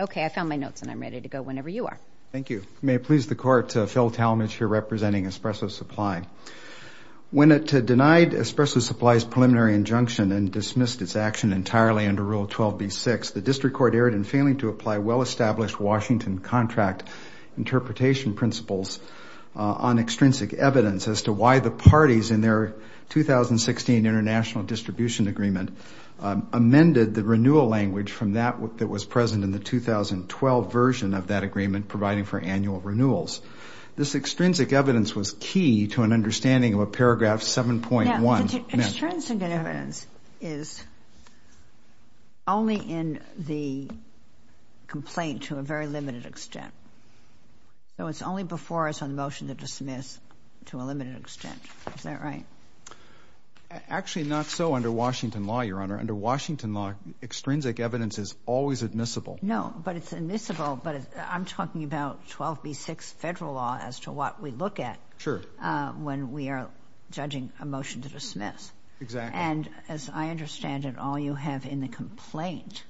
Okay, I found my notes and I'm ready to go whenever you are. Thank you. May it please the Court, Phil Talmadge here representing Espresso Supply. When it denied Espresso Supply's preliminary injunction and dismissed its action entirely under Rule 12b-6, the District Court erred in failing to apply well-established Washington contract interpretation principles on extrinsic evidence as to why the parties in their 2016 International Distribution Agreement amended the renewal language from that that was present in the 2012 version of that agreement providing for annual renewals. This extrinsic evidence was key to an understanding of a paragraph 7.1. Now, extrinsic evidence is only in the complaint to a very limited extent. So it's only before us on the motion to dismiss to a limited extent. Is that right? Actually, not so under Washington law, Your Honor. Under Washington law, extrinsic evidence is always admissible. No, but it's admissible, but I'm talking about 12b-6 federal law as to what we look at when we are judging a motion to dismiss. Exactly. And as I understand it, all you have in the complaint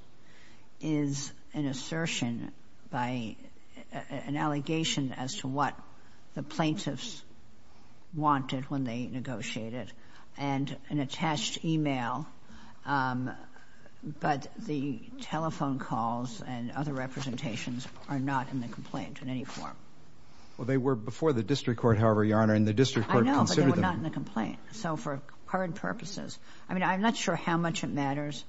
is an assertion by an allegation as to what the plaintiffs wanted when they negotiated, and an attached e-mail, but the telephone calls and other representations are not in the complaint in any form. Well, they were before the District Court, however, Your Honor, and the District Court considered them. They're not in the complaint. So for current purposes, I mean, I'm not sure how much it matters.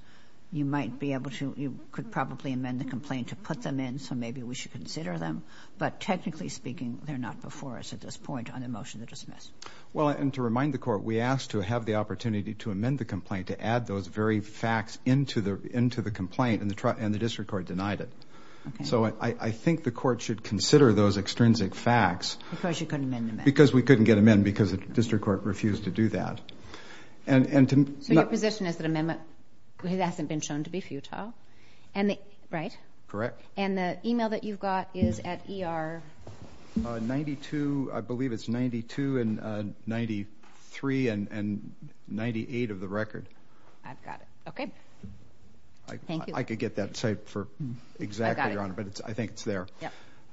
You might be able to, you could probably amend the complaint to put them in, so maybe we should consider them. But technically speaking, they're not before us at this point on the motion to dismiss. Well, and to remind the Court, we asked to have the opportunity to amend the complaint, to add those very facts into the complaint, and the District Court denied it. So I think the Court should consider those extrinsic facts. Because you couldn't amend them. Because we couldn't get them in because the District Court refused to do that. So your position is that amendment hasn't been shown to be futile, right? Correct. And the e-mail that you've got is at ER? 92, I believe it's 92 and 93 and 98 of the record. I've got it. Thank you. I could get that site for exactly, Your Honor, but I think it's there.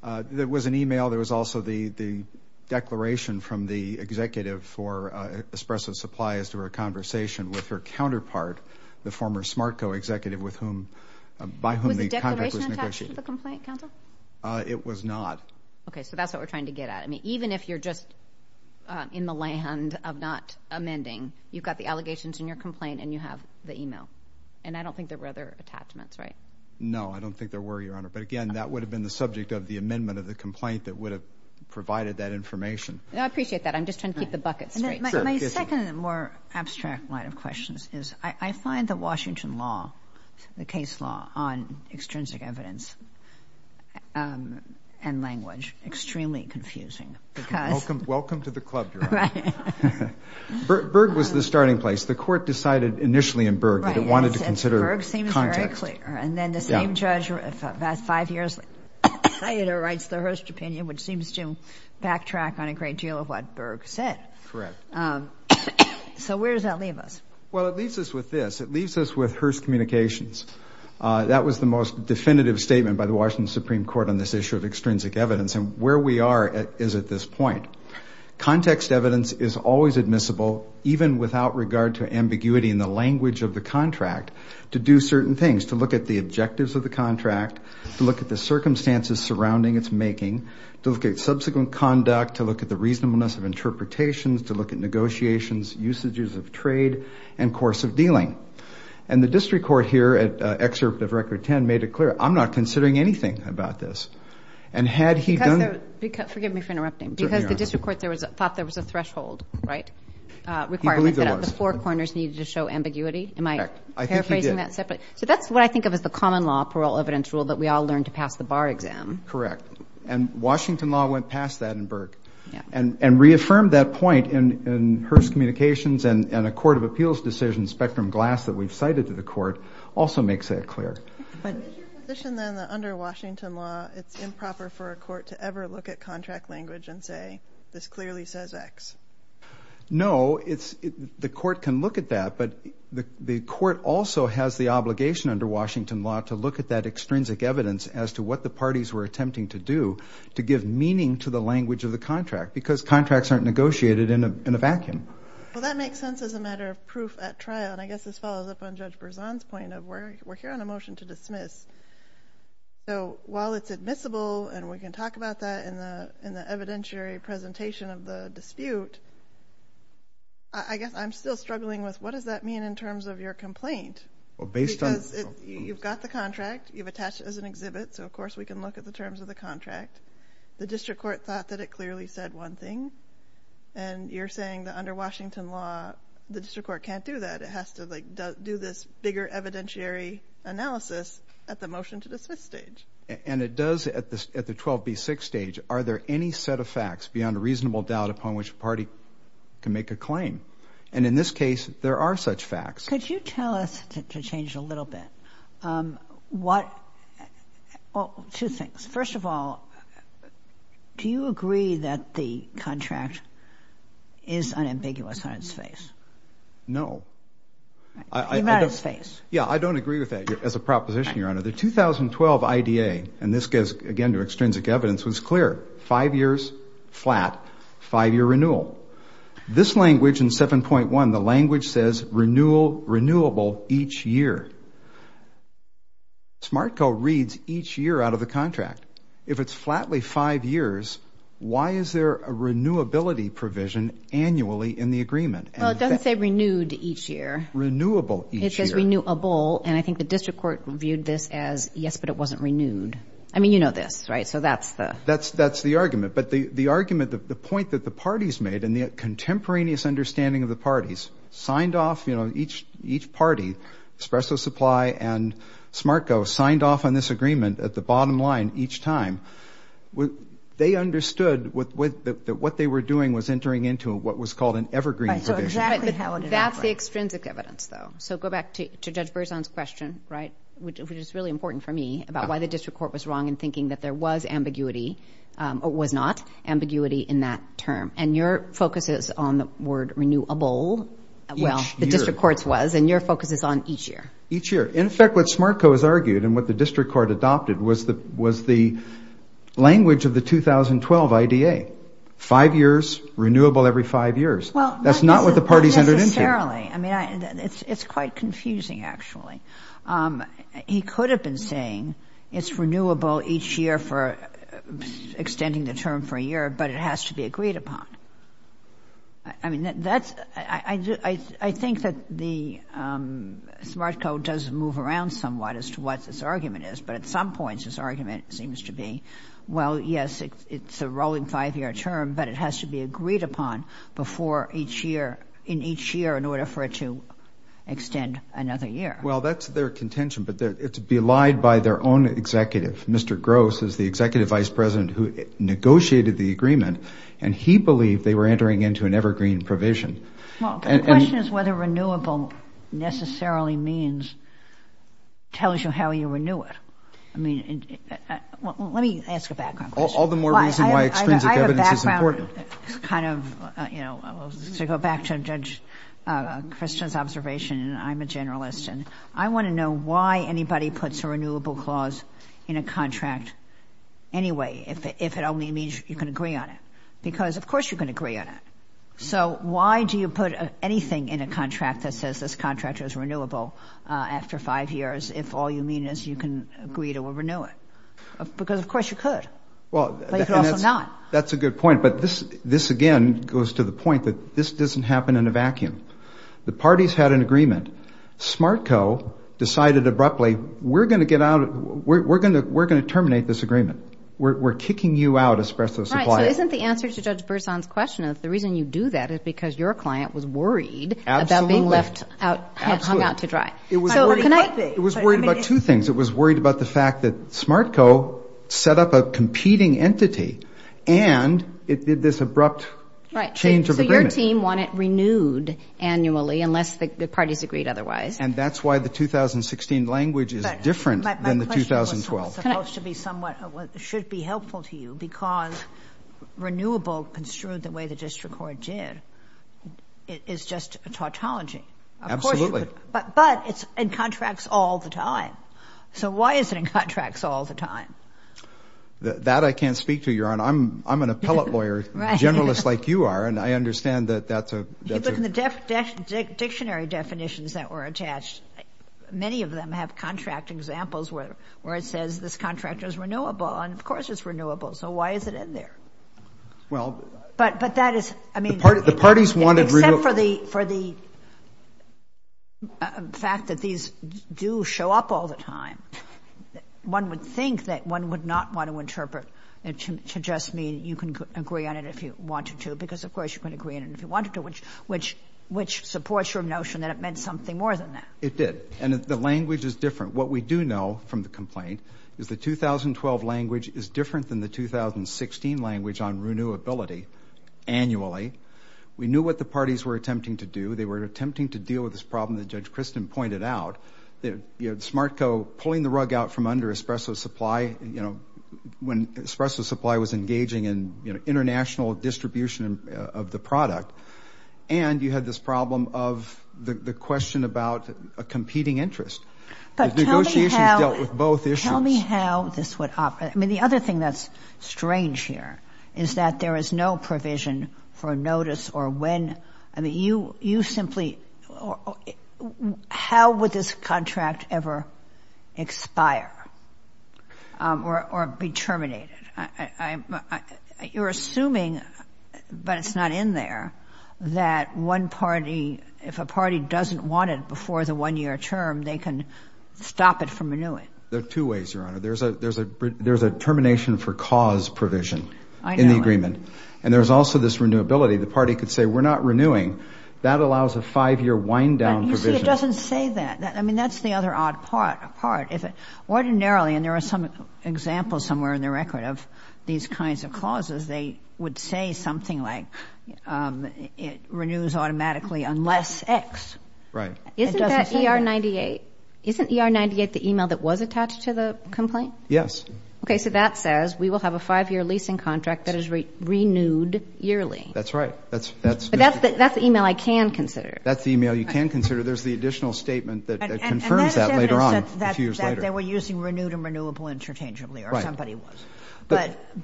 There was an e-mail, there was also the declaration from the executive for Espresso Supplies to her conversation with her counterpart, the former Smartco executive, by whom the contract was negotiated. Was the declaration attached to the complaint, counsel? It was not. Okay, so that's what we're trying to get at. I mean, even if you're just in the land of not amending, you've got the allegations in your complaint and you have the e-mail. And I don't think there were other attachments, right? No, I don't think there were, Your Honor. But, again, that would have been the subject of the amendment of the complaint that would have provided that information. I appreciate that. I'm just trying to keep the bucket straight. My second more abstract line of questions is I find the Washington law, the case law on extrinsic evidence and language extremely confusing. Welcome to the club, Your Honor. Right. Berg was the starting place. The court decided initially in Berg that it wanted to consider context. Berg seems very clear. And then the same judge five years later writes the Hearst opinion, which seems to backtrack on a great deal of what Berg said. Correct. So where does that leave us? Well, it leaves us with this. It leaves us with Hearst Communications. That was the most definitive statement by the Washington Supreme Court on this issue of extrinsic evidence. And where we are is at this point. Context evidence is always admissible, even without regard to ambiguity in the language of the contract, to do certain things, to look at the objectives of the contract, to look at the circumstances surrounding its making, to look at subsequent conduct, to look at the reasonableness of interpretations, to look at negotiations, usages of trade, and course of dealing. And the district court here at Excerpt of Record 10 made it clear, I'm not considering anything about this. And had he done the – Forgive me for interrupting. Because the district court thought there was a threshold, right? He believed there was. Requirement that the four corners needed to show ambiguity. Am I paraphrasing that separately? I think he did. So that's what I think of as the common law parole evidence rule that we all learned to pass the bar exam. Correct. And Washington law went past that in Burke. Yeah. And reaffirmed that point in Hearst Communications and a court of appeals decision, Spectrum Glass, that we've cited to the court also makes that clear. But is your position then that under Washington law, it's improper for a court to ever look at contract language and say, this clearly says X? No. The court can look at that, but the court also has the obligation under Washington law to look at that extrinsic evidence as to what the parties were attempting to do to give meaning to the language of the contract. Because contracts aren't negotiated in a vacuum. Well, that makes sense as a matter of proof at trial. And I guess this follows up on Judge Berzon's point of we're here on a motion to dismiss. So while it's admissible and we can talk about that in the evidentiary presentation of the dispute, I guess I'm still struggling with what does that mean in terms of your complaint? Because you've got the contract, you've attached it as an exhibit, so of course we can look at the terms of the contract. The district court thought that it clearly said one thing. And you're saying that under Washington law, the district court can't do that. It has to do this bigger evidentiary analysis at the motion to dismiss stage. And it does at the 12B6 stage. Are there any set of facts beyond a reasonable doubt upon which a party can make a claim? And in this case, there are such facts. Could you tell us, to change it a little bit, what – well, two things. First of all, do you agree that the contract is unambiguous on its face? No. Even on its face. Yeah, I don't agree with that as a proposition, Your Honor. The 2012 IDA, and this goes, again, to extrinsic evidence, was clear. Five years flat, five-year renewal. This language in 7.1, the language says renewable each year. SmartCo reads each year out of the contract. If it's flatly five years, why is there a renewability provision annually in the agreement? Well, it doesn't say renewed each year. Renewable each year. It says renewable, and I think the district court viewed this as, yes, but it wasn't renewed. I mean, you know this, right? So that's the – That's the argument. But the argument, the point that the parties made, and the contemporaneous understanding of the parties, signed off, you know, each party, Espresso Supply and SmartCo, signed off on this agreement at the bottom line each time. They understood that what they were doing was entering into what was called an evergreen provision. Right, so exactly how it – That's the extrinsic evidence, though. So go back to Judge Berzon's question, right, which is really important for me, about why the district court was wrong in thinking that there was ambiguity or was not ambiguity in that term. And your focus is on the word renewable. Each year. Well, the district court's was, and your focus is on each year. Each year. In fact, what SmartCo has argued and what the district court adopted was the language of the 2012 IDA, five years, renewable every five years. That's not what the parties entered into. Well, not necessarily. I mean, it's quite confusing, actually. He could have been saying it's renewable each year for extending the term for a year, but it has to be agreed upon. I mean, that's – I think that the SmartCo does move around somewhat as to what this argument is. But at some points this argument seems to be, well, yes, it's a rolling five-year term, but it has to be agreed upon before each year – in each year in order for it to extend another year. Well, that's their contention, but it's belied by their own executive. Mr. Gross is the executive vice president who negotiated the agreement, and he believed they were entering into an evergreen provision. Well, the question is whether renewable necessarily means – tells you how you renew it. I mean, let me ask a background question. All the more reason why extrinsic evidence is important. I have a background kind of – you know, to go back to Judge Christian's observation, and I'm a generalist, and I want to know why anybody puts a renewable clause in a contract anyway, if it only means you can agree on it. Because, of course, you can agree on it. So why do you put anything in a contract that says this contract is renewable after five years if all you mean is you can agree to renew it? Because, of course, you could, but you could also not. That's a good point. But this, again, goes to the point that this doesn't happen in a vacuum. The parties had an agreement. SmartCo decided abruptly, we're going to get out of – we're going to terminate this agreement. We're kicking you out, Espresso Supplier. Right. So isn't the answer to Judge Berzon's question is the reason you do that is because your client was worried about being left out – hung out to dry. Absolutely. It was worried about two things. It was worried about the fact that SmartCo set up a competing entity and it did this abrupt change of agreement. Right. So your team want it renewed annually unless the parties agreed otherwise. And that's why the 2016 language is different than the 2012. My question was supposed to be somewhat – should be helpful to you because renewable construed the way the district court did is just a tautology. Absolutely. But it's in contracts all the time. So why is it in contracts all the time? That I can't speak to, Your Honor. I'm an appellate lawyer, generalist like you are, and I understand that that's a – You look in the dictionary definitions that were attached. Many of them have contract examples where it says this contract is renewable. And, of course, it's renewable. So why is it in there? Well – But that is – I mean – Except for the fact that these do show up all the time. One would think that one would not want to interpret it to just mean you can agree on it if you wanted to because, of course, you can agree on it if you wanted to, which supports your notion that it meant something more than that. It did. And the language is different. What we do know from the complaint is the 2012 language is different than the 2016 language on renewability annually. We knew what the parties were attempting to do. They were attempting to deal with this problem that Judge Christin pointed out, the SmartCo pulling the rug out from under Espresso Supply when Espresso Supply was engaging in international distribution of the product. And you had this problem of the question about a competing interest. Negotiations dealt with both issues. Tell me how this would operate. I mean, the other thing that's strange here is that there is no provision for notice or when – I mean, you simply – how would this contract ever expire or be terminated? You're assuming, but it's not in there, that one party – if a party doesn't want it before the one-year term, they can stop it from renewing. There are two ways, Your Honor. There's a termination for cause provision in the agreement. And there's also this renewability. The party could say, we're not renewing. That allows a five-year wind-down provision. But, you see, it doesn't say that. I mean, that's the other odd part. Ordinarily, and there are some examples somewhere in the record of these kinds of clauses, they would say something like it renews automatically unless X. Right. Isn't that ER-98? Isn't ER-98 the email that was attached to the complaint? Yes. Okay, so that says we will have a five-year leasing contract that is renewed yearly. That's right. But that's the email I can consider. That's the email you can consider. There's the additional statement that confirms that later on, a few years later. That they were using renewed and renewable interchangeably, or somebody was.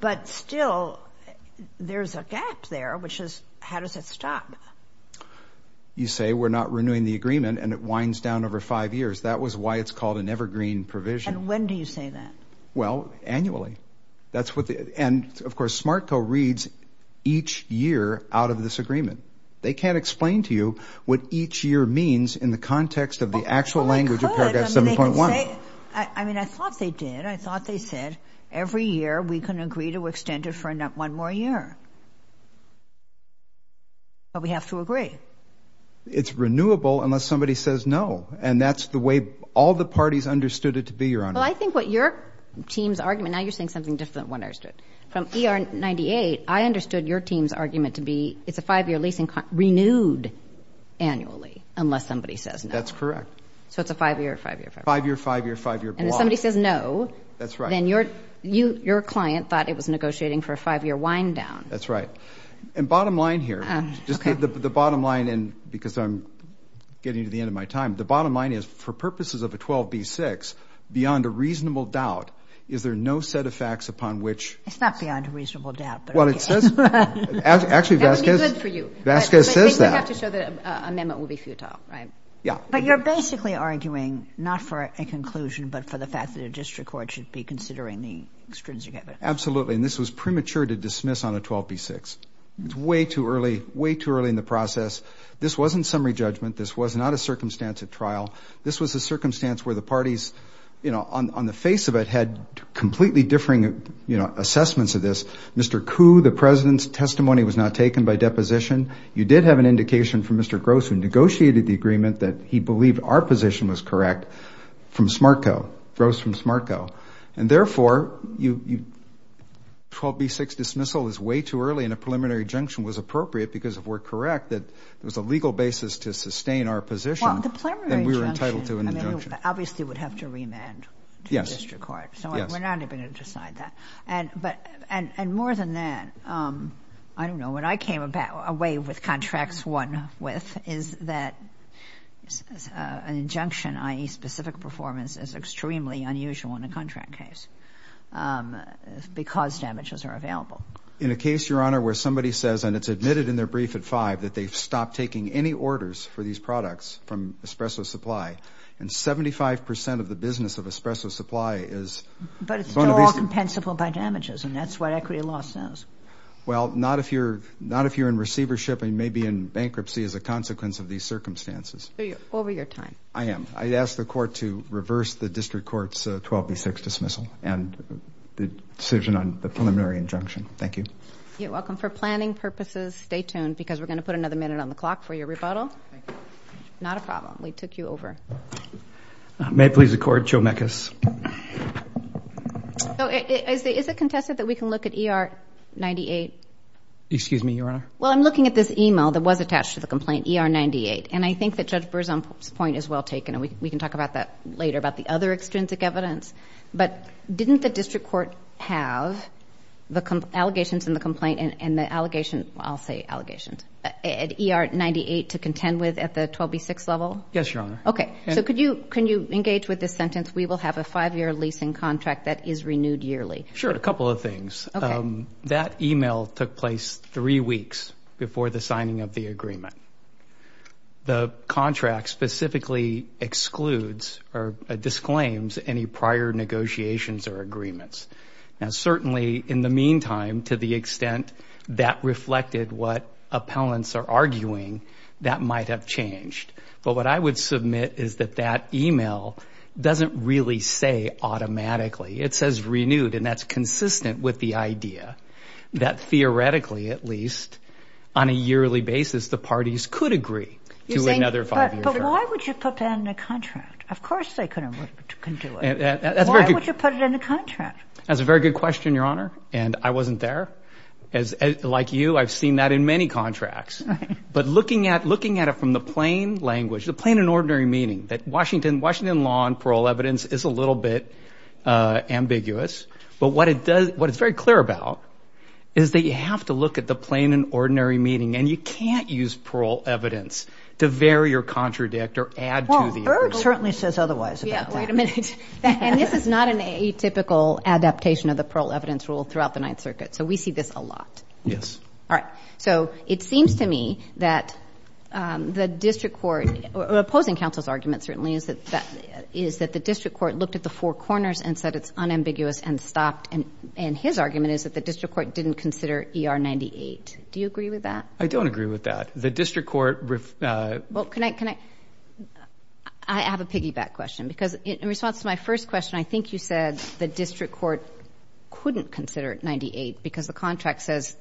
But still, there's a gap there, which is, how does it stop? You say, we're not renewing the agreement, and it winds down over five years. That was why it's called an evergreen provision. And when do you say that? Well, annually. And, of course, SmartCo reads each year out of this agreement. They can't explain to you what each year means in the context of the actual language of Paragraph 7.1. I mean, I thought they did. I thought they said, every year we can agree to extend it for one more year. But we have to agree. It's renewable unless somebody says no. And that's the way all the parties understood it to be, Your Honor. Well, I think what your team's argument, now you're saying something different than what I understood. From ER-98, I understood your team's argument to be it's a five-year leasing contract renewed annually unless somebody says no. That's correct. So it's a five-year, five-year, five-year block. Five-year, five-year, five-year block. And if somebody says no. That's right. Then your client thought it was negotiating for a five-year wind down. That's right. And bottom line here, just the bottom line, and because I'm getting to the end of my time, the bottom line is, for purposes of a 12b-6, beyond a reasonable doubt, is there no set of facts upon which. It's not beyond a reasonable doubt. Well, it says. Actually, Vasquez. That would be good for you. Vasquez says that. But you have to show that an amendment will be futile, right? Yeah. But you're basically arguing not for a conclusion but for the fact that a district court should be considering the extrinsic evidence. Absolutely. And this was premature to dismiss on a 12b-6. It's way too early, way too early in the process. This wasn't summary judgment. This was not a circumstance at trial. This was a circumstance where the parties, you know, on the face of it had completely differing, you know, assessments of this. Mr. Koo, the President's testimony was not taken by deposition. You did have an indication from Mr. Gross who negotiated the agreement that he believed our position was correct from SMARTCO, Gross from SMARTCO. And, therefore, 12b-6 dismissal is way too early and a preliminary injunction was appropriate because if we're correct that there was a legal basis to sustain our position. Well, the preliminary injunction. Then we were entitled to an injunction. I mean, you obviously would have to remand. Yes. To the district court. Yes. So we're not even going to decide that. And more than that, I don't know, when I came away with contracts won with is that an injunction, i.e. specific performance, is extremely unusual in a contract case because damages are available. In a case, Your Honor, where somebody says, and it's admitted in their brief at 5, that they've stopped taking any orders for these products from Espresso Supply, and 75 percent of the business of Espresso Supply is going to be. But it's still all compensable by damages, and that's what equity law says. Well, not if you're in receivership and maybe in bankruptcy as a consequence of these circumstances. So you're over your time. I am. I ask the court to reverse the district court's 12b-6 dismissal and the decision on the preliminary injunction. Thank you. You're welcome. For planning purposes, stay tuned because we're going to put another minute on the clock for your rebuttal. Thank you. Not a problem. We took you over. May it please the Court, Joe Mekas. Is it contested that we can look at ER-98? Excuse me, Your Honor. Well, I'm looking at this e-mail that was attached to the complaint, ER-98, and I think that Judge Berzon's point is well taken, and we can talk about that later, about the other extrinsic evidence. But didn't the district court have the allegations in the complaint and the allegations, I'll say allegations, at ER-98 to contend with at the 12b-6 level? Yes, Your Honor. Okay. So can you engage with this sentence, we will have a five-year leasing contract that is renewed yearly? Sure. A couple of things. Okay. That e-mail took place three weeks before the signing of the agreement. The contract specifically excludes or disclaims any prior negotiations or agreements. Now, certainly in the meantime, to the extent that reflected what appellants are arguing, that might have changed. But what I would submit is that that e-mail doesn't really say automatically. It says renewed, and that's consistent with the idea that theoretically, at least, on a yearly basis, the parties could agree to another five-year term. But why would you put that in a contract? Of course they could do it. Why would you put it in a contract? That's a very good question, Your Honor, and I wasn't there. Like you, I've seen that in many contracts. Right. But looking at it from the plain language, the plain and ordinary meaning, that Washington law and parole evidence is a little bit ambiguous. But what it's very clear about is that you have to look at the plain and ordinary meaning, and you can't use parole evidence to vary or contradict or add to the evidence. Well, Erg certainly says otherwise about that. Yeah, wait a minute. And this is not an atypical adaptation of the parole evidence rule throughout the Ninth Circuit. So we see this a lot. Yes. All right. So it seems to me that the district court, opposing counsel's argument certainly, is that the district court looked at the four corners and said it's unambiguous and stopped, and his argument is that the district court didn't consider ER 98. Do you agree with that? I don't agree with that. The district court ref— Well, can I—I have a piggyback question because in response to my first question, I think you said the district court couldn't consider 98 because the contract says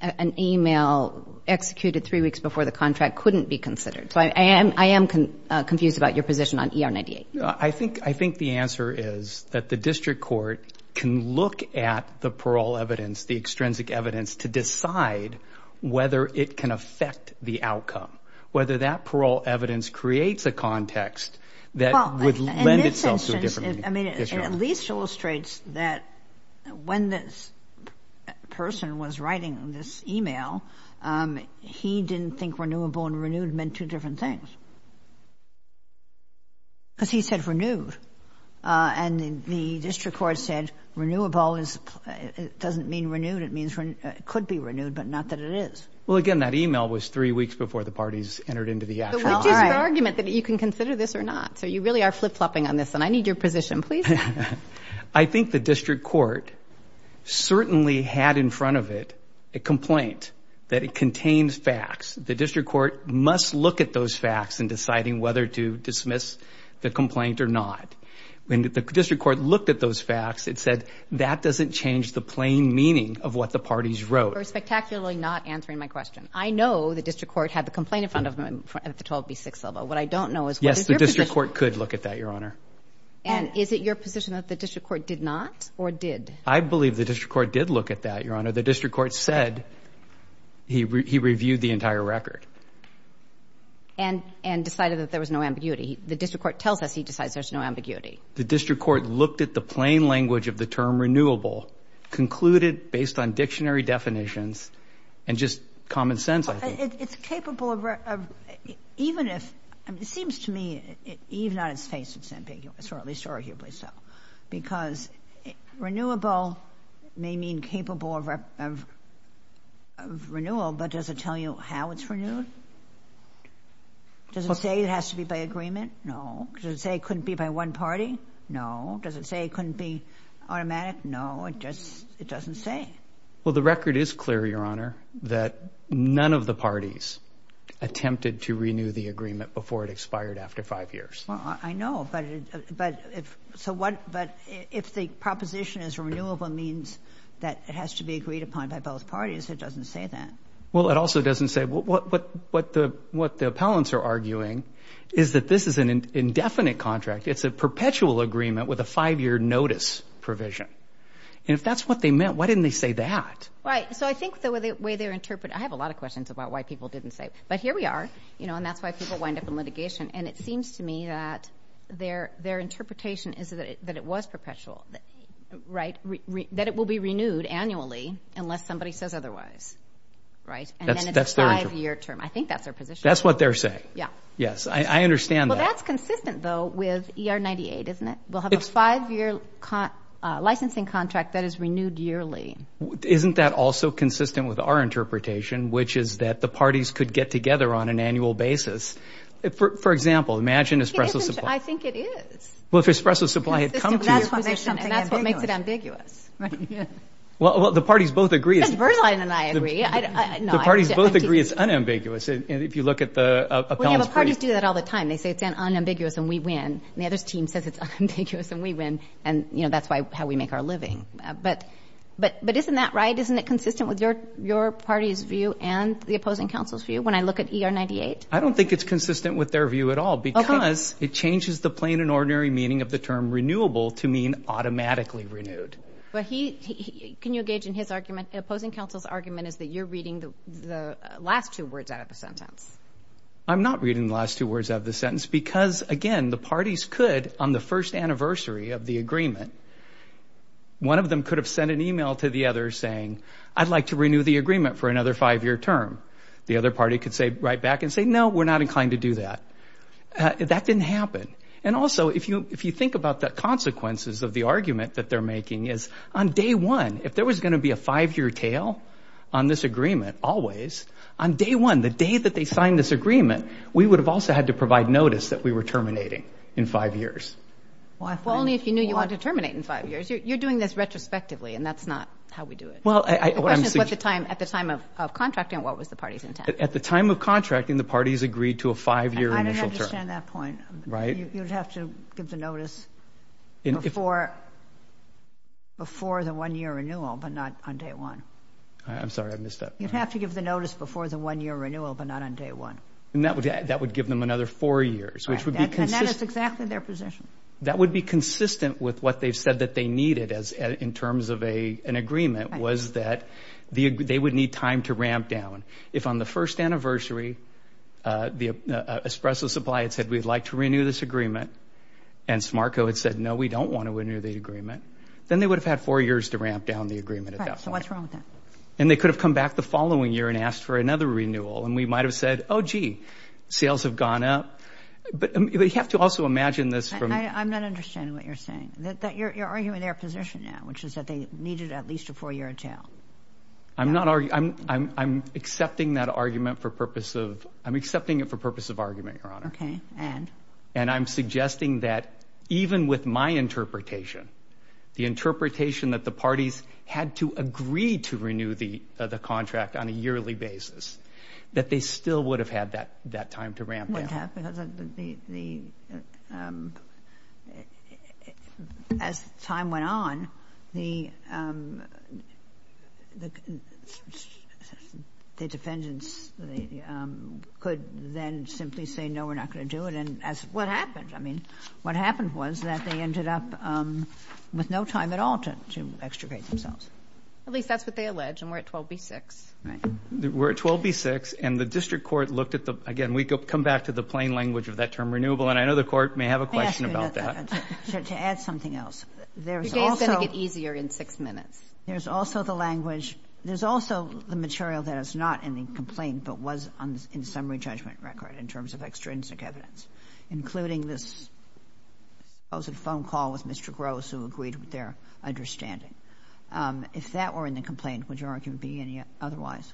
an email executed three weeks before the contract couldn't be considered. So I am confused about your position on ER 98. I think the answer is that the district court can look at the parole evidence, the extrinsic evidence, to decide whether it can affect the outcome, whether that parole evidence creates a context that would lend itself to a different— I mean, it at least illustrates that when this person was writing this email, he didn't think renewable and renewed meant two different things because he said renewed. And the district court said renewable is—it doesn't mean renewed. It means it could be renewed, but not that it is. Well, again, that email was three weeks before the parties entered into the actual— Which is the argument that you can consider this or not. So you really are flip-flopping on this, and I need your position, please. I think the district court certainly had in front of it a complaint that it contains facts. The district court must look at those facts in deciding whether to dismiss the complaint or not. When the district court looked at those facts, it said that doesn't change the plain meaning of what the parties wrote. You're spectacularly not answering my question. I know the district court had the complaint in front of them at the 12B6 level. What I don't know is whether your position— Yes, the district court could look at that, Your Honor. And is it your position that the district court did not or did? I believe the district court did look at that, Your Honor. The district court said he reviewed the entire record. And decided that there was no ambiguity. The district court tells us he decides there's no ambiguity. The district court looked at the plain language of the term renewable, concluded based on dictionary definitions, and just common sense, I think. It's capable of—even if—it seems to me even on its face it's ambiguous, or at least arguably so, because renewable may mean capable of renewal, but does it tell you how it's renewed? Does it say it has to be by agreement? No. Does it say it couldn't be by one party? No. Does it say it couldn't be automatic? No. It just—it doesn't say. Well, the record is clear, Your Honor, that none of the parties attempted to renew the agreement before it expired after five years. Well, I know, but if—so what—but if the proposition is renewable means that it has to be agreed upon by both parties, it doesn't say that. Well, it also doesn't say—what the—what the appellants are arguing is that this is an indefinite contract. It's a perpetual agreement with a five-year notice provision. And if that's what they meant, why didn't they say that? Right. So I think the way they're interpreting— I have a lot of questions about why people didn't say it. But here we are, you know, and that's why people wind up in litigation, and it seems to me that their interpretation is that it was perpetual, right, that it will be renewed annually unless somebody says otherwise, right? And then it's a five-year term. I think that's their position. That's what they're saying. Yeah. Yes, I understand that. Well, that's consistent, though, with ER 98, isn't it? We'll have a five-year licensing contract that is renewed yearly. Isn't that also consistent with our interpretation, which is that the parties could get together on an annual basis? For example, imagine Espresso Supply. I think it is. Well, if Espresso Supply had come to your position— That's what makes it ambiguous. That's what makes it ambiguous, right? Well, the parties both agree— Ms. Berline and I agree. The parties both agree it's unambiguous if you look at the appellants' position. Well, yeah, but parties do that all the time. They say it's unambiguous and we win. And the other team says it's unambiguous and we win. And, you know, that's how we make our living. But isn't that right? Isn't it consistent with your party's view and the opposing council's view when I look at ER 98? I don't think it's consistent with their view at all because it changes the plain and ordinary meaning of the term renewable to mean automatically renewed. Can you engage in his argument? The opposing council's argument is that you're reading the last two words out of the sentence. I'm not reading the last two words out of the sentence because, again, the parties could, on the first anniversary of the agreement, one of them could have sent an email to the other saying, I'd like to renew the agreement for another five-year term. The other party could say right back and say, no, we're not inclined to do that. That didn't happen. And also, if you think about the consequences of the argument that they're making, is on day one, if there was going to be a five-year tail on this agreement always, on day one, the day that they signed this agreement, we would have also had to provide notice that we were terminating in five years. Well, only if you knew you wanted to terminate in five years. You're doing this retrospectively, and that's not how we do it. The question is at the time of contracting, what was the party's intent? At the time of contracting, the parties agreed to a five-year initial term. I don't understand that point. Right. You'd have to give the notice before the one-year renewal but not on day one. I'm sorry. I missed that part. You'd have to give the notice before the one-year renewal but not on day one. And that would give them another four years, which would be consistent. And that is exactly their position. That would be consistent with what they've said that they needed in terms of an agreement, was that they would need time to ramp down. If on the first anniversary the espresso supply had said, we'd like to renew this agreement, and SMARCO had said, no, we don't want to renew the agreement, then they would have had four years to ramp down the agreement at that point. Right. So what's wrong with that? And they could have come back the following year and asked for another renewal, and we might have said, oh, gee, sales have gone up. But you have to also imagine this from — I'm not understanding what you're saying, that you're arguing their position now, which is that they needed at least a four-year attail. I'm not — I'm accepting that argument for purpose of — I'm accepting it for purpose of argument, Your Honor. Okay. And? And I'm suggesting that even with my interpretation, the interpretation that the parties had to agree to renew the contract on a yearly basis, that they still would have had that time to ramp down. What happened was the — as time went on, the defendants could then simply say, no, we're not going to do it, and that's what happened. I mean, what happened was that they ended up with no time at all to extricate themselves. At least that's what they allege, and we're at 12B-6. Right. We're at 12B-6, and the district court looked at the — again, we come back to the plain language of that term, renewable, and I know the court may have a question about that. Let me ask you another — to add something else. Today is going to get easier in six minutes. There's also the language — there's also the material that is not in the complaint but was in the summary judgment record in terms of extrinsic evidence, including this supposed phone call with Mr. Gross who agreed with their understanding. If that were in the complaint, would your argument be otherwise?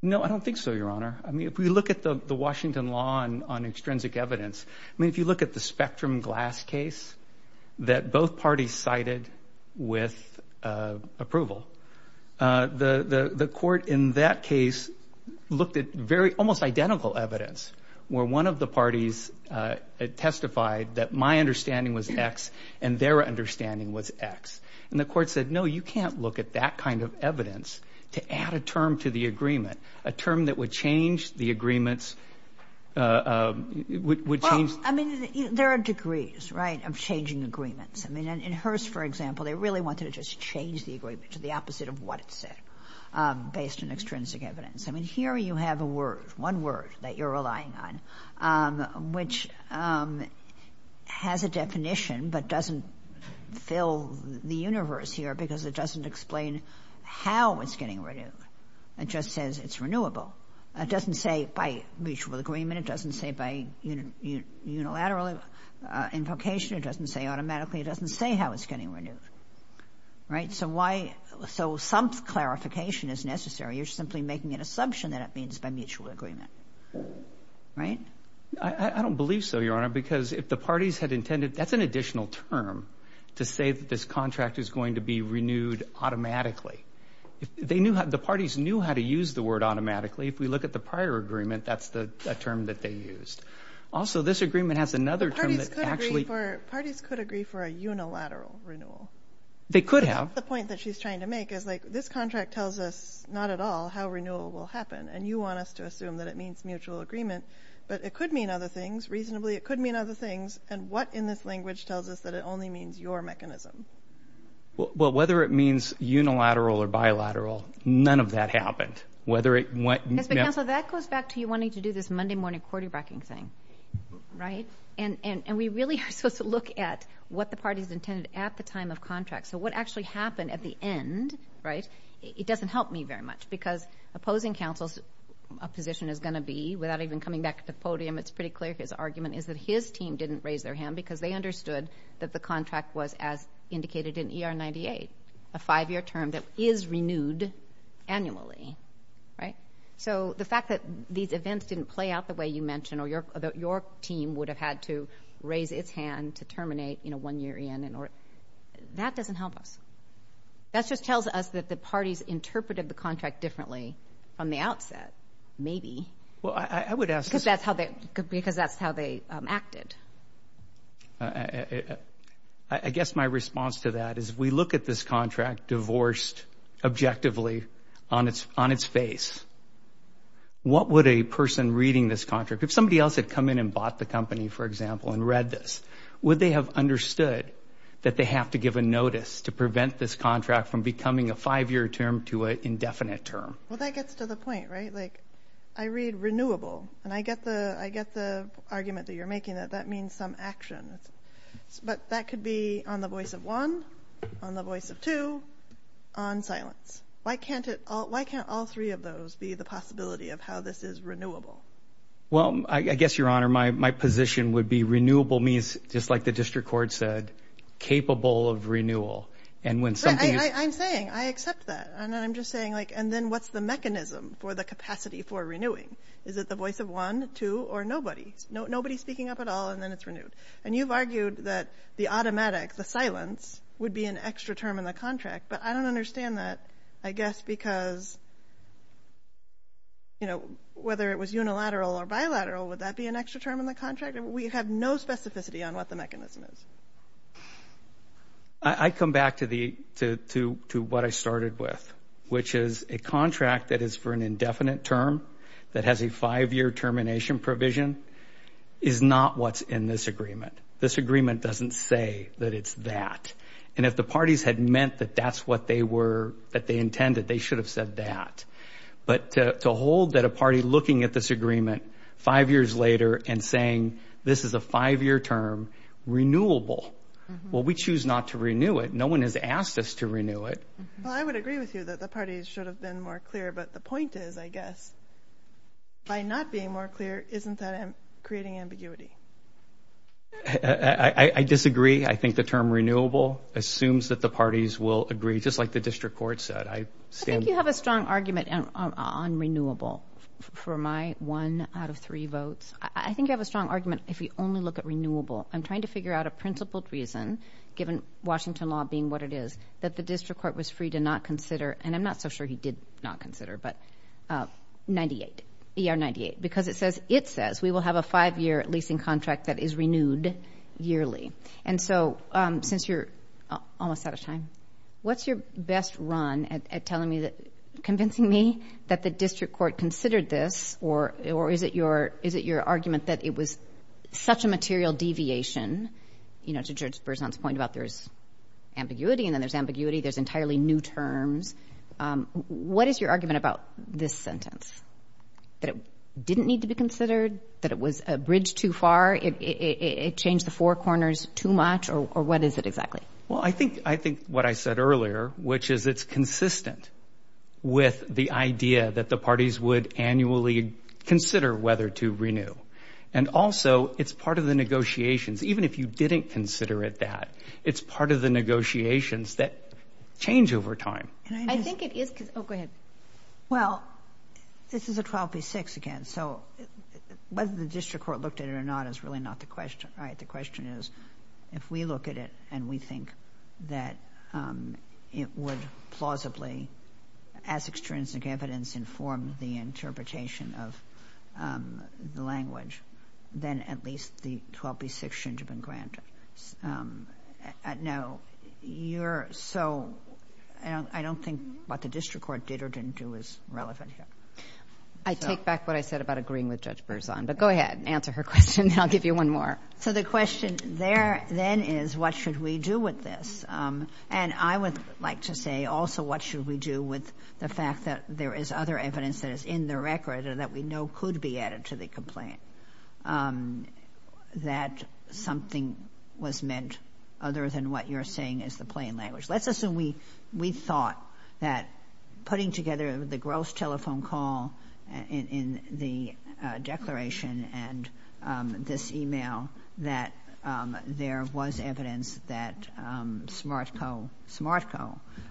No, I don't think so, Your Honor. I mean, if we look at the Washington law on extrinsic evidence, I mean, if you look at the Spectrum Glass case that both parties cited with approval, the court in that case looked at very — almost identical evidence, where one of the parties testified that my understanding was X and their understanding was X. And the court said, no, you can't look at that kind of evidence to add a term to the agreement, a term that would change the agreements — would change — Well, I mean, there are degrees, right, of changing agreements. I mean, in Hearst, for example, they really wanted to just change the agreement to the opposite of what it said, based on extrinsic evidence. I mean, here you have a word, one word that you're relying on, which has a definition but doesn't fill the universe here because it doesn't explain how it's getting renewed. It just says it's renewable. It doesn't say by mutual agreement. It doesn't say by unilateral invocation. It doesn't say automatically. It doesn't say how it's getting renewed. Right? So why — so some clarification is necessary. You're simply making an assumption that it means by mutual agreement. Right? I don't believe so, Your Honor, because if the parties had intended — that's an additional term to say that this contract is going to be renewed automatically. They knew — the parties knew how to use the word automatically. If we look at the prior agreement, that's the term that they used. Also, this agreement has another term that actually — But parties could agree for a unilateral renewal. They could have. That's the point that she's trying to make is, like, this contract tells us not at all how renewal will happen, and you want us to assume that it means mutual agreement. But it could mean other things. Reasonably, it could mean other things. And what in this language tells us that it only means your mechanism? Well, whether it means unilateral or bilateral, none of that happened. Whether it — Mr. Counsel, that goes back to you wanting to do this Monday morning quarterbacking thing. Right? And we really are supposed to look at what the parties intended at the time of contract. So what actually happened at the end, right, it doesn't help me very much, because opposing counsel's position is going to be, without even coming back to the podium, it's pretty clear his argument is that his team didn't raise their hand because they understood that the contract was as indicated in ER 98, a five-year term that is renewed annually. Right? So the fact that these events didn't play out the way you mentioned or that your team would have had to raise its hand to terminate, you know, one year in, that doesn't help us. That just tells us that the parties interpreted the contract differently from the outset, maybe. Well, I would ask — Because that's how they acted. I guess my response to that is we look at this contract divorced objectively on its face. What would a person reading this contract, if somebody else had come in and bought the company, for example, and read this, would they have understood that they have to give a notice to prevent this contract from becoming a five-year term to an indefinite term? Well, that gets to the point, right? I read renewable, and I get the argument that you're making that that means some action. But that could be on the voice of one, on the voice of two, on silence. Why can't all three of those be the possibility of how this is renewable? Well, I guess, Your Honor, my position would be renewable means, just like the district court said, capable of renewal. I'm saying I accept that. And then I'm just saying, like, and then what's the mechanism for the capacity for renewing? Is it the voice of one, two, or nobody? Nobody's speaking up at all, and then it's renewed. And you've argued that the automatic, the silence, would be an extra term in the contract. But I don't understand that, I guess, because, you know, whether it was unilateral or bilateral, would that be an extra term in the contract? We have no specificity on what the mechanism is. I come back to what I started with, which is a contract that is for an indefinite term that has a five-year termination provision is not what's in this agreement. This agreement doesn't say that it's that. And if the parties had meant that that's what they intended, they should have said that. But to hold that a party looking at this agreement five years later and saying this is a five-year term, renewable, well, we choose not to renew it. No one has asked us to renew it. Well, I would agree with you that the parties should have been more clear. But the point is, I guess, by not being more clear, isn't that creating ambiguity? I disagree. I think the term renewable assumes that the parties will agree, just like the district court said. I think you have a strong argument on renewable for my one out of three votes. I think you have a strong argument if you only look at renewable. I'm trying to figure out a principled reason, given Washington law being what it is, that the district court was free to not consider, and I'm not so sure he did not consider, but 98, ER 98, because it says we will have a five-year leasing contract that is renewed yearly. And so since you're almost out of time, what's your best run at convincing me that the district court considered this, or is it your argument that it was such a material deviation, you know, to Judge Berzon's point about there's ambiguity and then there's ambiguity, there's entirely new terms. What is your argument about this sentence, that it didn't need to be considered, that it was a bridge too far, it changed the four corners too much, or what is it exactly? Well, I think what I said earlier, which is it's consistent with the idea that the parties would annually consider whether to renew. And also, it's part of the negotiations. Even if you didn't consider it that, it's part of the negotiations that change over time. Oh, go ahead. Well, this is a 12b-6 again, so whether the district court looked at it or not is really not the question, right? The question is if we look at it and we think that it would plausibly, as extrinsic evidence, inform the interpretation of the language, then at least the 12b-6 shouldn't have been granted. No. So I don't think what the district court did or didn't do is relevant here. I take back what I said about agreeing with Judge Berzon, but go ahead and answer her question. I'll give you one more. So the question there then is what should we do with this? And I would like to say also what should we do with the fact that there is other evidence that is in the record or that we know could be added to the complaint, that something was meant other than what you're saying is the plain language. Let's assume we thought that putting together the gross telephone call in the declaration and this email that there was evidence that SmartCo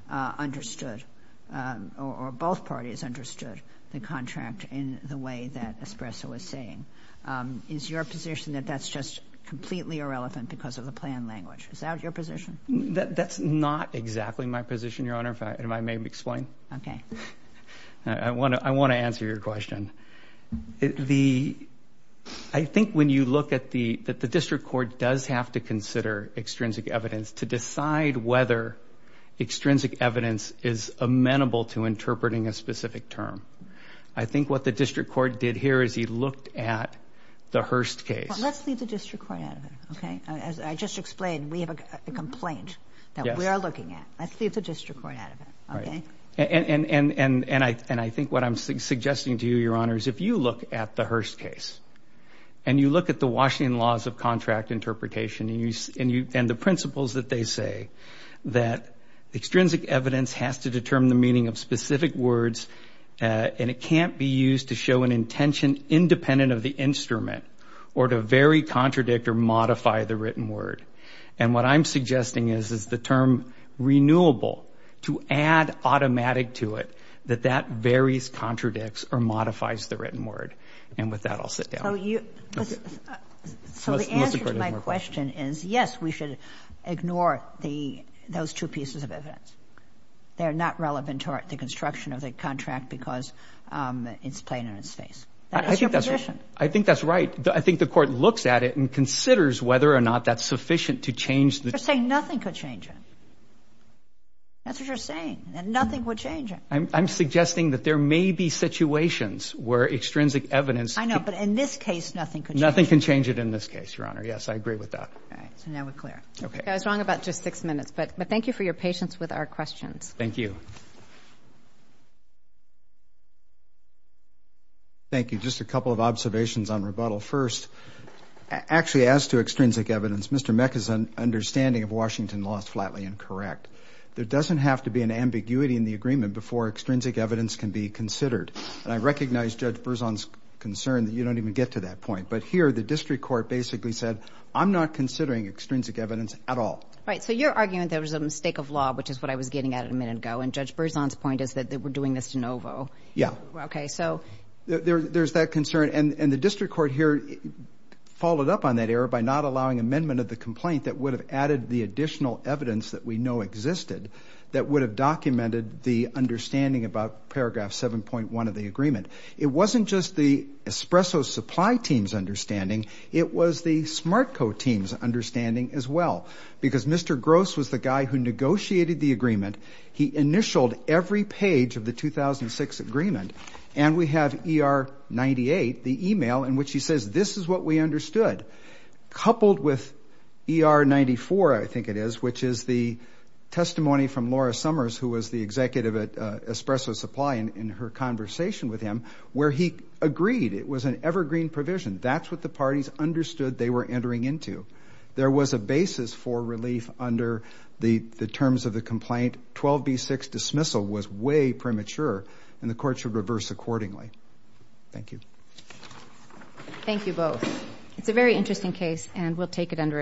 understood or both parties understood the contract in the way that Espresso was saying. Is your position that that's just completely irrelevant because of the plain language? Is that your position? That's not exactly my position, Your Honor, if I may explain. Okay. I want to answer your question. I think when you look at the district court does have to consider extrinsic evidence to decide whether extrinsic evidence is amenable to interpreting a specific term. I think what the district court did here is he looked at the Hearst case. Let's leave the district court out of it, okay? As I just explained, we have a complaint that we are looking at. Let's leave the district court out of it, okay? And I think what I'm suggesting to you, Your Honor, is if you look at the Hearst case and you look at the Washington Laws of Contract Interpretation and the principles that they say that extrinsic evidence has to determine the meaning of specific words and it can't be used to show an intention independent of the instrument or to vary, contradict, or modify the written word. And what I'm suggesting is the term renewable, to add automatic to it, that that varies, contradicts, or modifies the written word. And with that, I'll sit down. So the answer to my question is, yes, we should ignore those two pieces of evidence. They're not relevant to the construction of the contract because it's plain in its face. That is your position. I think that's right. I think the court looks at it and considers whether or not that's sufficient to change the You're saying nothing could change it. That's what you're saying, that nothing would change it. I'm suggesting that there may be situations where extrinsic evidence I know, but in this case, nothing could change it. Nothing can change it in this case, Your Honor. Yes, I agree with that. All right. So now we're clear. Okay. I was wrong about just six minutes, but thank you for your patience with our questions. Thank you. Thank you. Just a couple of observations on rebuttal. First, actually, as to extrinsic evidence, Mr. Meck is understanding of Washington Laws flatly incorrect. There doesn't have to be an ambiguity in the agreement before extrinsic evidence can be considered. And I recognize Judge Berzon's concern that you don't even get to that point. But here, the district court basically said, I'm not considering extrinsic evidence at all. Right. So you're arguing there was a mistake of law, which is what I was getting at a minute ago. And Judge Berzon's point is that we're doing this de novo. Yeah. Okay. So there's that concern. And the district court here followed up on that error by not allowing amendment of the complaint that would have added the additional evidence that we know existed, that would have documented the understanding about Paragraph 7.1 of the agreement. It wasn't just the Espresso Supply Team's understanding. It was the Smartco Team's understanding as well. Because Mr. Gross was the guy who negotiated the agreement. He initialed every page of the 2006 agreement. And we have ER 98, the e-mail in which he says, this is what we understood. Coupled with ER 94, I think it is, which is the testimony from Laura Summers, who was the executive at Espresso Supply in her conversation with him, where he agreed. It was an evergreen provision. That's what the parties understood they were entering into. There was a basis for relief under the terms of the complaint. 12B6 dismissal was way premature, and the court should reverse accordingly. Thank you. Thank you both. It's a very interesting case, and we'll take it under advisement.